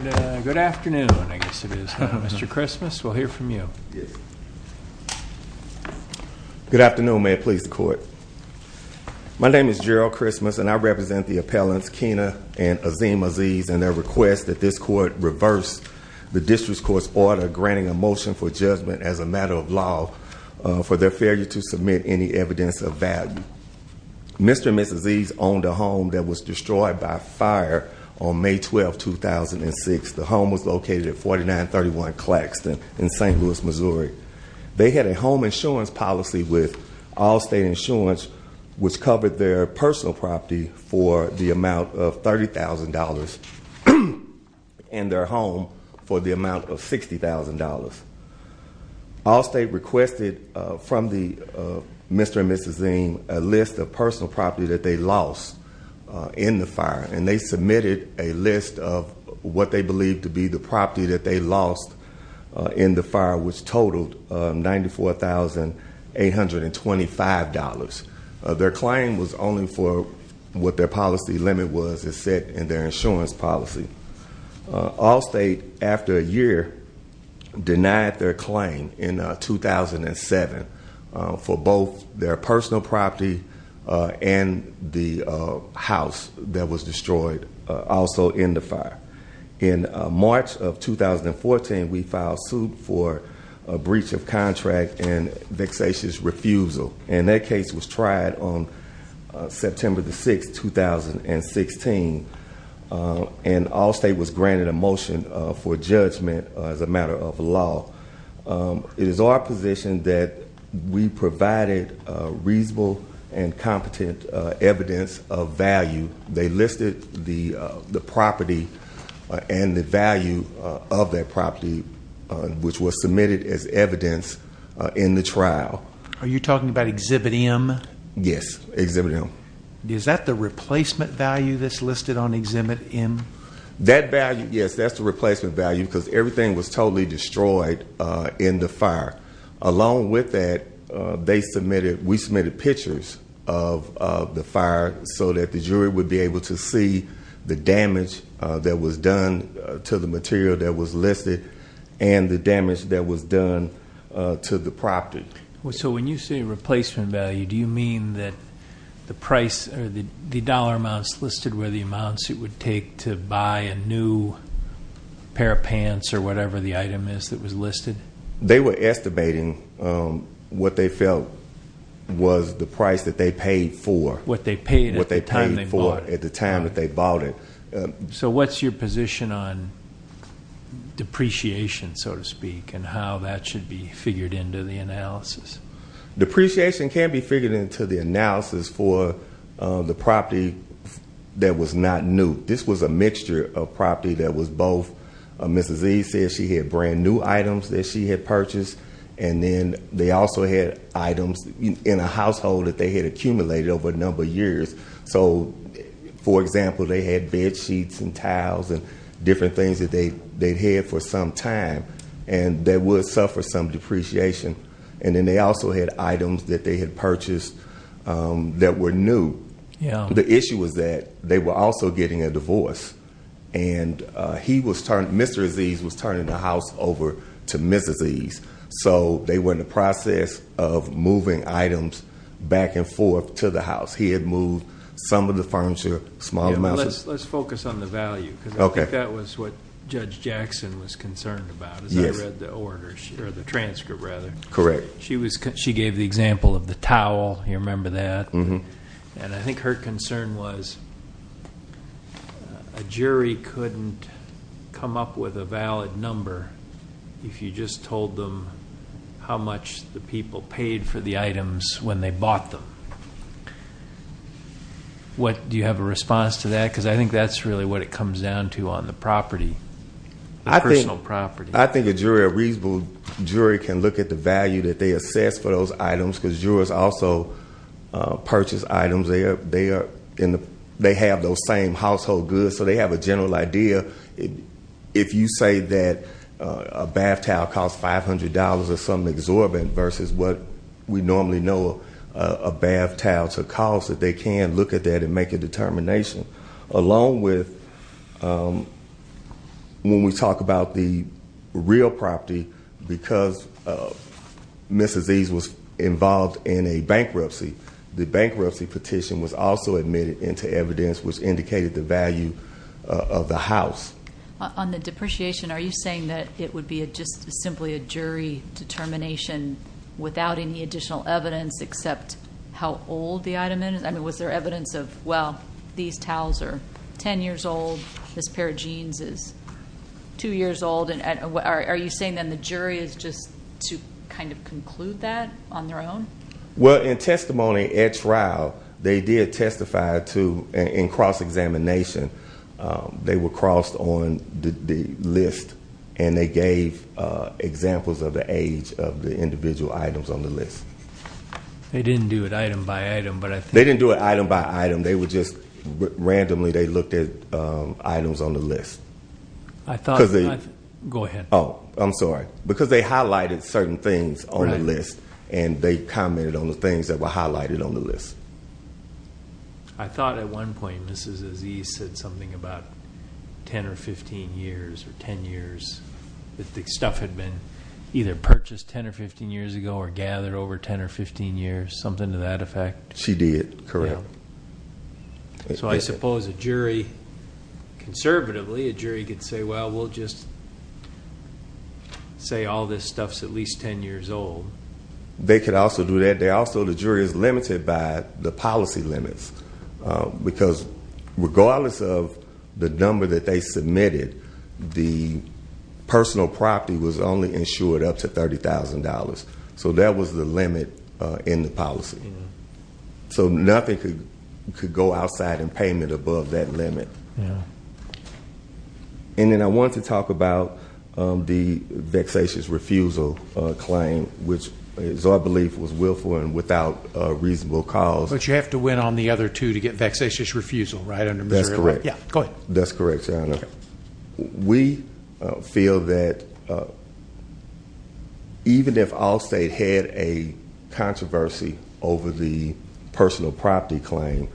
Good afternoon, I guess it is, Mr. Christmas. We'll hear from you. Yes. Good afternoon. May it please the court. My name is Gerald Christmas, and I represent the appellants Kena and Azim Aziz in their request that this court reverse the district court's order granting a motion for judgment as a matter of law for their failure to submit any evidence of value. Mr. and Mrs. Aziz owned a home that was destroyed by fire on May 12, 2006. The home was located at 4931 Claxton in St. Louis, Missouri. They had a home insurance policy with Allstate Insurance, which covered their personal property for the amount of $30,000 and their home for the amount of $60,000. Allstate requested from Mr. and Mrs. a list of personal property that they lost in the fire, and they submitted a list of what they believed to be the property that they lost in the fire, which totaled $94,825. Their claim was only for what their policy limit was, it said, in their insurance policy. Allstate, after a year, denied their claim in 2007 for both their personal property and the house that was destroyed, also in the fire. In March of 2014, we filed suit for a breach of contract and vexatious refusal. And that case was tried on September the 6th, 2016. And Allstate was granted a motion for judgment as a matter of law. It is our position that we provided reasonable and competent evidence of value. They listed the property and the value of that property, which was submitted as evidence in the trial. Are you talking about Exhibit M? Yes, Exhibit M. Is that the replacement value that's listed on Exhibit M? That value, yes, that's the replacement value, because everything was totally destroyed in the fire. Along with that, we submitted pictures of the fire so that the jury would be able to see the damage that was done to the material that was listed and the damage that was done to the property. So when you say replacement value, do you mean that the dollar amounts listed were the amounts it would take to buy a new pair of pants or whatever the item is that was listed? They were estimating what they felt was the price that they paid for. What they paid at the time they bought it. At the time that they bought it. So what's your position on depreciation, so to speak, and how that should be figured into the analysis? Depreciation can be figured into the analysis for the property that was not new. This was a mixture of property that was both, Mrs. E said she had brand new items that she had purchased, and then they also had items in a household that they had accumulated over a number of years. So, for example, they had bed sheets and towels and different things that they'd had for some time, and they would suffer some depreciation. And then they also had items that they had purchased that were new. The issue was that they were also getting a divorce, and Mr. Ezees was turning the house over to Mrs. Ezees. So they were in the process of moving items back and forth to the house. He had moved some of the furniture, small amounts. Let's focus on the value, because I think that was what Judge Jackson was concerned about as I read the transcript. Correct. She gave the example of the towel, you remember that? And I think her concern was a jury couldn't come up with a valid number if you just told them how much the people paid for the items when they bought them. What, do you have a response to that? Because I think that's really what it comes down to on the property, the personal property. I think a jury, a reasonable jury can look at the value that they assess for those items, because jurors also purchase items. They have those same household goods, so they have a general idea. If you say that a bath towel costs $500 or something exorbitant versus what we normally know a bath towel to cost, that they can look at that and make a determination. Along with, when we talk about the real property, because Mrs. Ease was involved in a bankruptcy, the bankruptcy petition was also admitted into evidence which indicated the value of the house. On the depreciation, are you saying that it would be just simply a jury determination without any additional evidence except how old the item is? I mean, was there evidence of, well, these towels are 10 years old, this pair of jeans is two years old, are you saying then the jury is just to kind of conclude that on their own? Well, in testimony at trial, they did testify to, in cross-examination, they were crossed on the list and they gave examples of the age of the individual items on the list. They didn't do it item by item, but I think- They didn't do it item by item, they would just, randomly they looked at items on the list. I thought- Go ahead. Oh, I'm sorry. Because they highlighted certain things on the list and they commented on the things that were highlighted on the list. I thought at one point, Mrs. Ease said something about 10 or 15 years or 10 years that the stuff had been either purchased 10 or 15 years ago or gathered over 10 or 15 years, something to that effect. She did, correct. Yeah. So I suppose a jury, conservatively, a jury could say, well, we'll just say all this stuff's at least 10 years old. They could also do that. They also, the jury is limited by the policy limits because regardless of the number that they submitted, the personal property was only insured up to $30,000. So that was the limit in the policy. So nothing could go outside in payment above that limit. And then I want to talk about the vexatious refusal claim, which is our belief was willful and without a reasonable cause. But you have to win on the other two to get vexatious refusal, right? Under Missouri law? That's correct. Yeah, go ahead. That's correct, Your Honor. We feel that even if all state had a controversy over the personal property claim,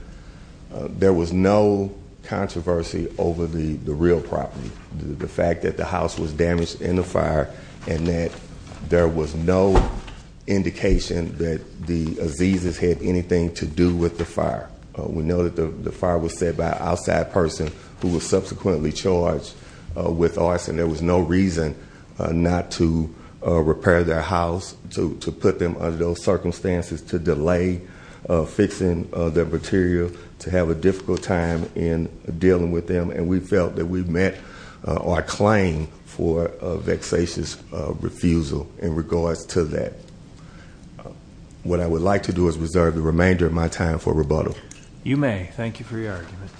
there was no controversy over the real property. The fact that the house was damaged in the fire and that there was no indication that the Aziz's had anything to do with the fire. We know that the fire was set by an outside person who was subsequently charged with arson. There was no reason not to repair their house, to put them under those circumstances, to delay fixing their material, to have a difficult time in dealing with them. And we felt that we met our claim for a vexatious refusal in regards to that. What I would like to do is reserve the remainder of my time for rebuttal. You may, thank you for your argument.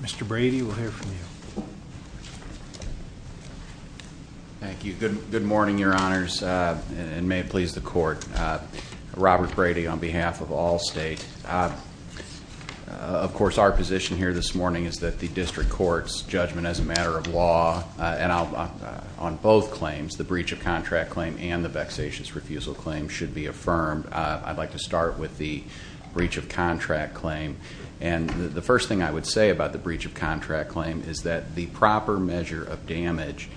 Mr. Brady, we'll hear from you. Thank you. Good morning, Your Honors. And may it please the court. Robert Brady on behalf of all state. Of course, our position here this morning is that the district court's judgment as a matter of law and on both claims, the breach of contract claim and the vexatious refusal claim should be affirmed. I'd like to start with the breach of contract claim. And the first thing I would say about the breach of contract claim is that the proper measure of damage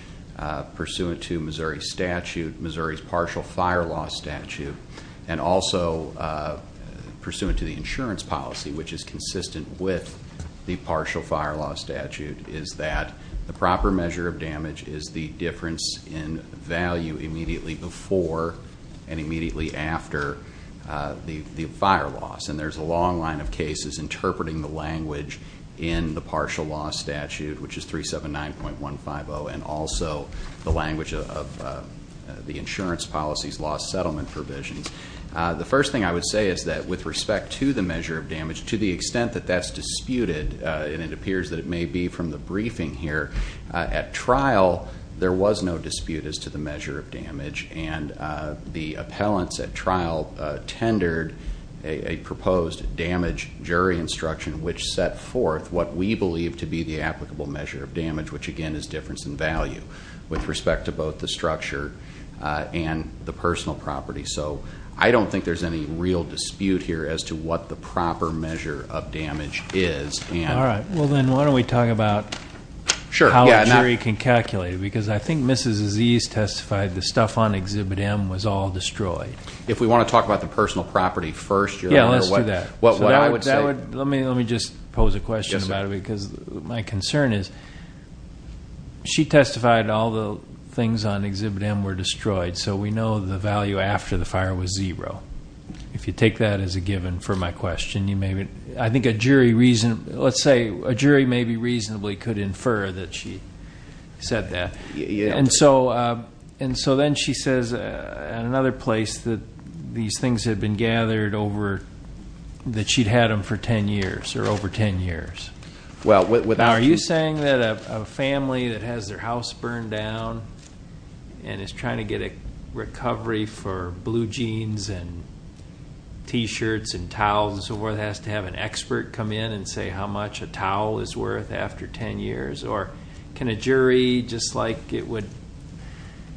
pursuant to Missouri's statute, Missouri's partial fire law statute, and also pursuant to the insurance policy, which is consistent with the partial fire law statute, is that the proper measure of damage is the difference in value immediately before and immediately after the fire loss. And there's a long line of cases interpreting the language in the partial law statute, which is 379.150, and also the language of the insurance policy's lost settlement provisions. The first thing I would say is that with respect to the measure of damage, to the extent that that's disputed, and it appears that it may be from the briefing here, at trial, there was no dispute as to the measure of damage. And the appellants at trial tendered a proposed damage jury instruction, which set forth what we believe to be the applicable measure of damage, which again is difference in value with respect to both the structure and the personal property. So I don't think there's any real dispute here as to what the proper measure of damage is. All right, well then, why don't we talk about how a jury can calculate it, because I think Mrs. Aziz testified the stuff on Exhibit M was all destroyed. If we want to talk about the personal property first, you'll remember what I would say. Let me just pose a question about it, because my concern is she testified all the things on Exhibit M were destroyed, so we know the value after the fire was zero. If you take that as a given for my question, you may, I think a jury reason, let's say a jury maybe reasonably could infer that she said that. And so then she says at another place that these things had been gathered over, that she'd had them for 10 years, or over 10 years. Now, are you saying that a family that has their house burned down and is trying to get a recovery for blue jeans and T-shirts and towels and so forth has to have an expert come in and say how much a towel is worth after 10 years? Or can a jury just like it would,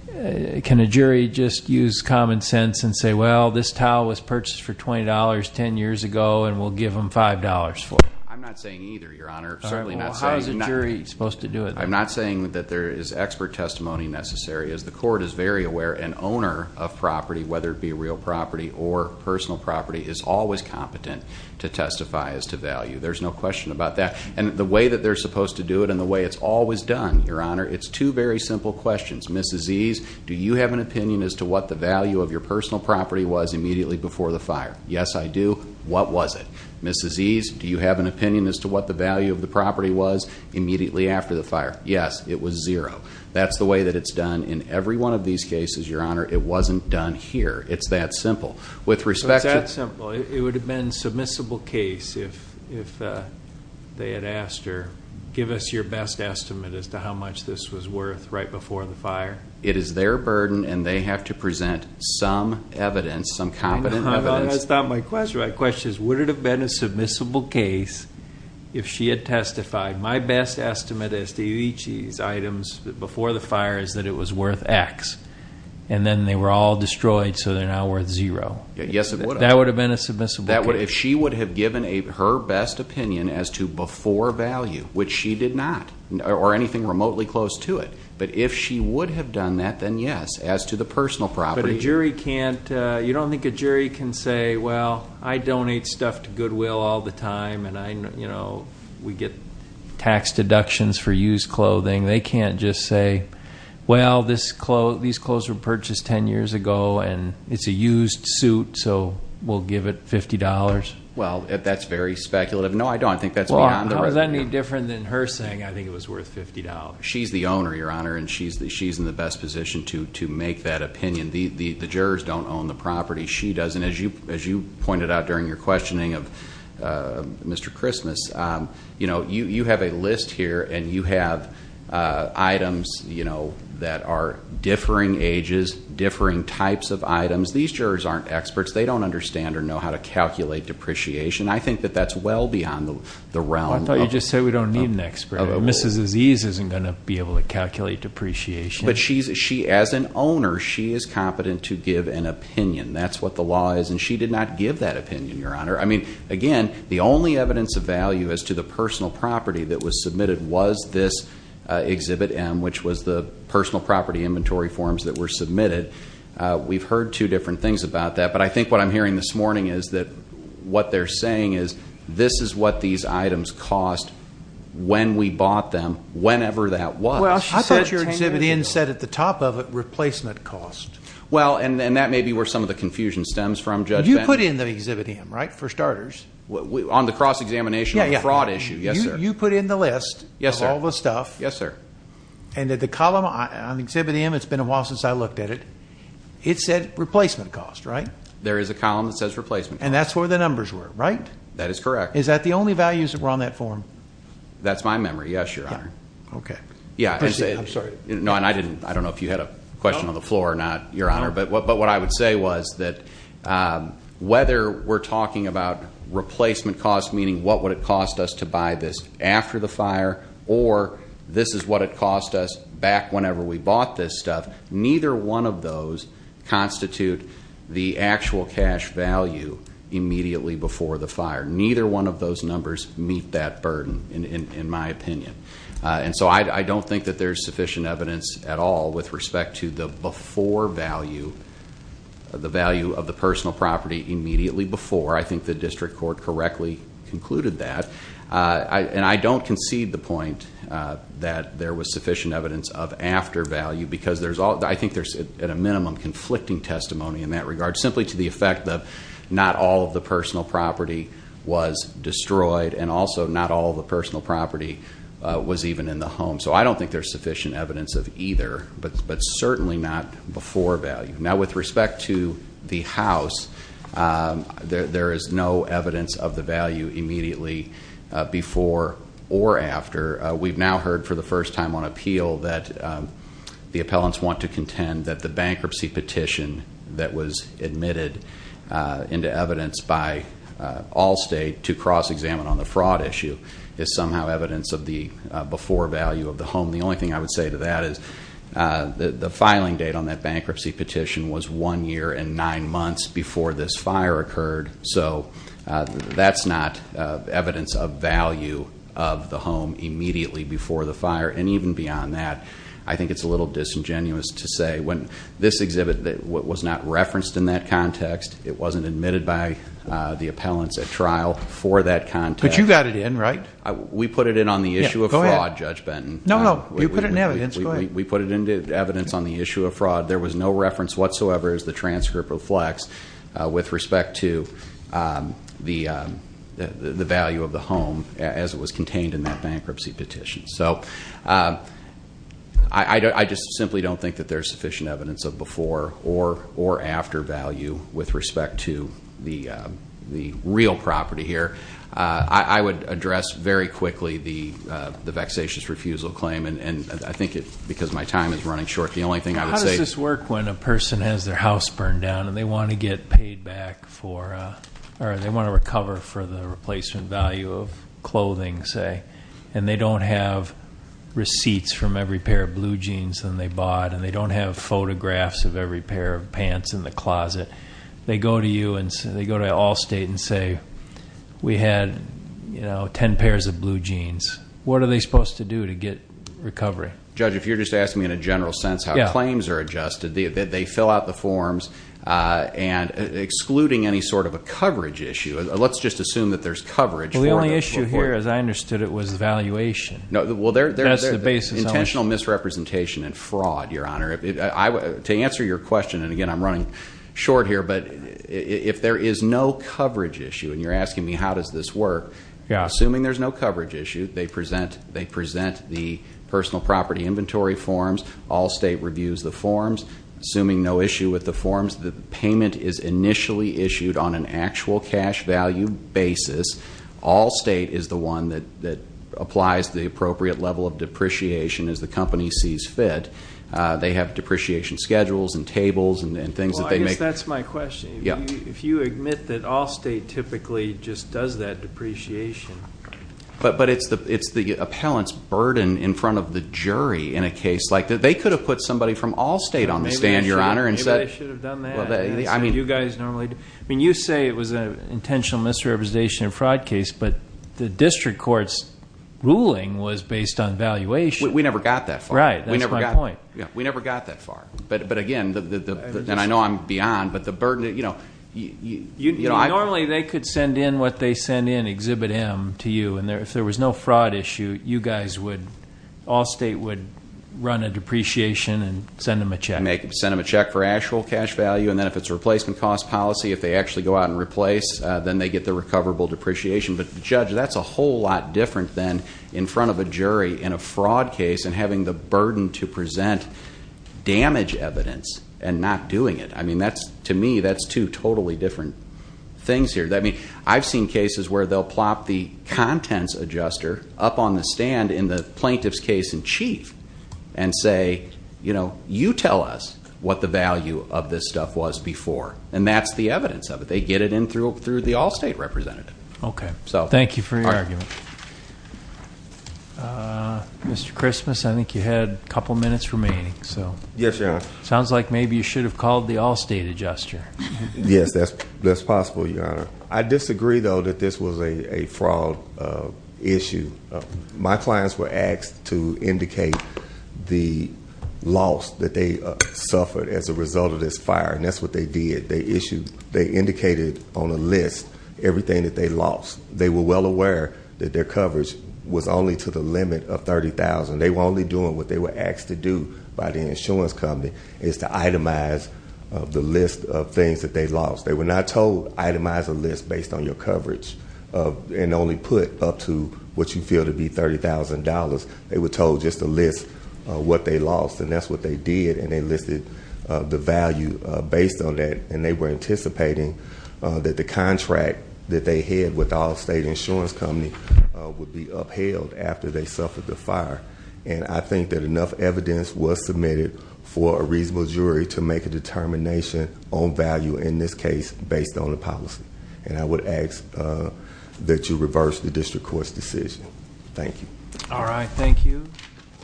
can a jury just use common sense and say, well, this towel was purchased for $20 10 years ago, and we'll give them $5 for it? I'm not saying either, Your Honor. Certainly not saying. Well, how is a jury supposed to do it? I'm not saying that there is expert testimony necessary. As the court is very aware, an owner of property, whether it be real property or personal property, is always competent to testify as to value. There's no question about that. And the way that they're supposed to do it and the way it's always done, Your Honor, it's two very simple questions. Mrs. Ease, do you have an opinion as to what the value of your personal property was immediately before the fire? Yes, I do. What was it? Mrs. Ease, do you have an opinion as to what the value of the property was immediately after the fire? Yes, it was zero. That's the way that it's done in every one of these cases, Your Honor. It wasn't done here. It's that simple. With respect to- It's that simple. It would have been submissible case if they had asked or give us your best estimate as to how much this was worth right before the fire. It is their burden and they have to present some evidence, some competent evidence. That's not my question. My question is, would it have been a submissible case if she had testified, my best estimate as to each of these items before the fire is that it was worth X. And then they were all destroyed, so they're now worth zero. Yes, it would have. That would have been a submissible case. If she would have given her best opinion as to before value, which she did not, or anything remotely close to it. But if she would have done that, then yes, as to the personal property. But a jury can't, you don't think a jury can say, well, I donate stuff to Goodwill all the time and we get tax deductions for used clothing. They can't just say, well, these clothes were purchased 10 years ago and it's a used suit, so we'll give it $50. Well, that's very speculative. No, I don't think that's beyond the- Well, how is that any different than her saying I think it was worth $50? She's the owner, Your Honor, and she's in the best position to make that opinion. The jurors don't own the property. She doesn't. As you pointed out during your questioning of Mr. Christmas, you have a list here and you have items that are differing ages, differing types of items. These jurors aren't experts. They don't understand or know how to calculate depreciation. I think that that's well beyond the realm of- I thought you just said we don't need an expert. Mrs. Aziz isn't going to be able to calculate depreciation. But she, as an owner, she is competent to give an opinion. That's what the law is, and she did not give that opinion, Your Honor. I mean, again, the only evidence of value as to the personal property that was submitted was this Exhibit M, which was the personal property inventory forms that were submitted. We've heard two different things about that, but I think what I'm hearing this morning is that what they're saying is this is what these items cost when we bought them, whenever that was. Well, I thought your Exhibit M said at the top of it, replacement cost. Well, and that may be where some of the confusion stems from, Judge Bender. You put in the Exhibit M, right, for starters. On the cross-examination of the fraud issue, yes, sir. You put in the list of all the stuff. Yes, sir. And that the column on Exhibit M, it's been a while since I looked at it, it said replacement cost, right? There is a column that says replacement cost. And that's where the numbers were, right? That is correct. Is that the only values that were on that form? That's my memory, yes, Your Honor. OK. Yeah, and I didn't, I don't know if you had a question on the floor or not, Your Honor. But what I would say was that whether we're talking about replacement cost, meaning what would it cost us to buy this after the fire, or this is what it cost us back whenever we bought this stuff, neither one of those constitute the actual cash value immediately before the fire. Neither one of those numbers meet that burden, in my opinion. And so I don't think that there's sufficient evidence at all with respect to the before value, the value of the personal property immediately before. I think the district court correctly concluded that. And I don't concede the point that there was sufficient evidence of after value, because I think there's, at a minimum, conflicting testimony in that regard, simply to the effect that not all of the personal property was destroyed, and also not all of the personal property was even in the home. So I don't think there's sufficient evidence of either, but certainly not before value. Now, with respect to the house, there is no evidence of the value immediately before or after. We've now heard for the first time on appeal that the appellants want to contend that the bankruptcy petition that was admitted into evidence by Allstate to cross-examine on the fraud issue is somehow evidence of the before value of the home. The only thing I would say to that is, the filing date on that bankruptcy petition was one year and nine months before this fire occurred. So that's not evidence of value of the home immediately before the fire. And even beyond that, I think it's a little disingenuous to say when this exhibit was not referenced in that context, it wasn't admitted by the appellants at trial for that context. But you got it in, right? We put it in on the issue of fraud, Judge Benton. No, no, you put it in evidence. We put it into evidence on the issue of fraud. There was no reference whatsoever as the transcript reflects with respect to the value of the home as it was contained in that bankruptcy petition. So I just simply don't think that there's sufficient evidence of before or after value with respect to the real property here. I would address very quickly the vexatious refusal claim. And I think it's because my time is running short. The only thing I would say is this work when a person has their house burned down and they want to get paid back for, or they want to recover for the replacement value of clothing, and they don't have receipts from every pair of blue jeans that they bought, and they don't have photographs of every pair of pants in the closet, they go to you and they go to Allstate and say, we had 10 pairs of blue jeans. What are they supposed to do to get recovery? Judge, if you're just asking me in a general sense how claims are adjusted, they fill out the forms. And excluding any sort of a coverage issue, let's just assume that there's coverage for it. The only issue here, as I understood it, was valuation. Well, there's intentional misrepresentation and fraud, Your Honor. To answer your question, and again, I'm running short here, but if there is no coverage issue, and you're asking me how does this work, assuming there's no coverage issue, they present the personal property inventory forms. Allstate reviews the forms. Assuming no issue with the forms, the payment is initially issued on an actual cash value basis. Allstate is the one that applies the appropriate level of depreciation as the company sees fit. They have depreciation schedules and tables and things that they make. Well, I guess that's my question. If you admit that Allstate typically just does that depreciation. But it's the appellant's burden in front of the jury in a case like that. They could have put somebody from Allstate on the stand, Your Honor, and said, Maybe they should have done that. You guys normally do. I mean, you say it was an intentional misrepresentation of a fraud case, but the district court's ruling was based on valuation. We never got that far. Right, that's my point. We never got that far. But again, and I know I'm beyond, but the burden, you know. Normally they could send in what they send in, exhibit him to you. And if there was no fraud issue, you guys would, Allstate would run a depreciation and send him a check. Make him send him a check for actual cash value, and then if it's a replacement cost policy, if they actually go out and replace, then they get the recoverable depreciation. But Judge, that's a whole lot different than in front of a jury in a fraud case and having the burden to present damage evidence and not doing it. I mean, to me, that's two totally different things here. I've seen cases where they'll plop the contents adjuster up on the stand in the plaintiff's case in chief and say, you know, you tell us what the value of this stuff was before. And that's the evidence of it. They get it in through the Allstate representative. Okay, thank you for your argument. Mr. Christmas, I think you had a couple minutes remaining. Yes, Your Honor. Sounds like maybe you should have called the Allstate adjuster. Yes, that's possible, Your Honor. I disagree, though, that this was a fraud issue. My clients were asked to indicate the loss that they suffered as a result of this fire, and that's what they did. They indicated on a list everything that they lost. They were well aware that their coverage was only to the limit of $30,000. They were only doing what they were asked to do by the insurance company, is to itemize the list of things that they lost. They were not told, itemize a list based on your coverage and only put up to what you feel to be $30,000. They were told just to list what they lost, and that's what they did, and they listed the value based on that, and they were anticipating that the contract that they had with the Allstate insurance company would be upheld after they suffered the fire, and I think that enough evidence was submitted for a reasonable jury to make a determination on value in this case based on the policy, and I would ask that you reverse the district court's decision. Thank you. All right, thank you.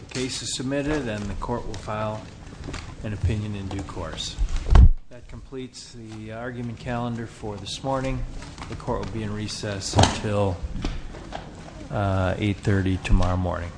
The case is submitted, and the court will file an opinion in due course. That completes the argument calendar for this morning. The court will be in recess until 8.30 tomorrow morning.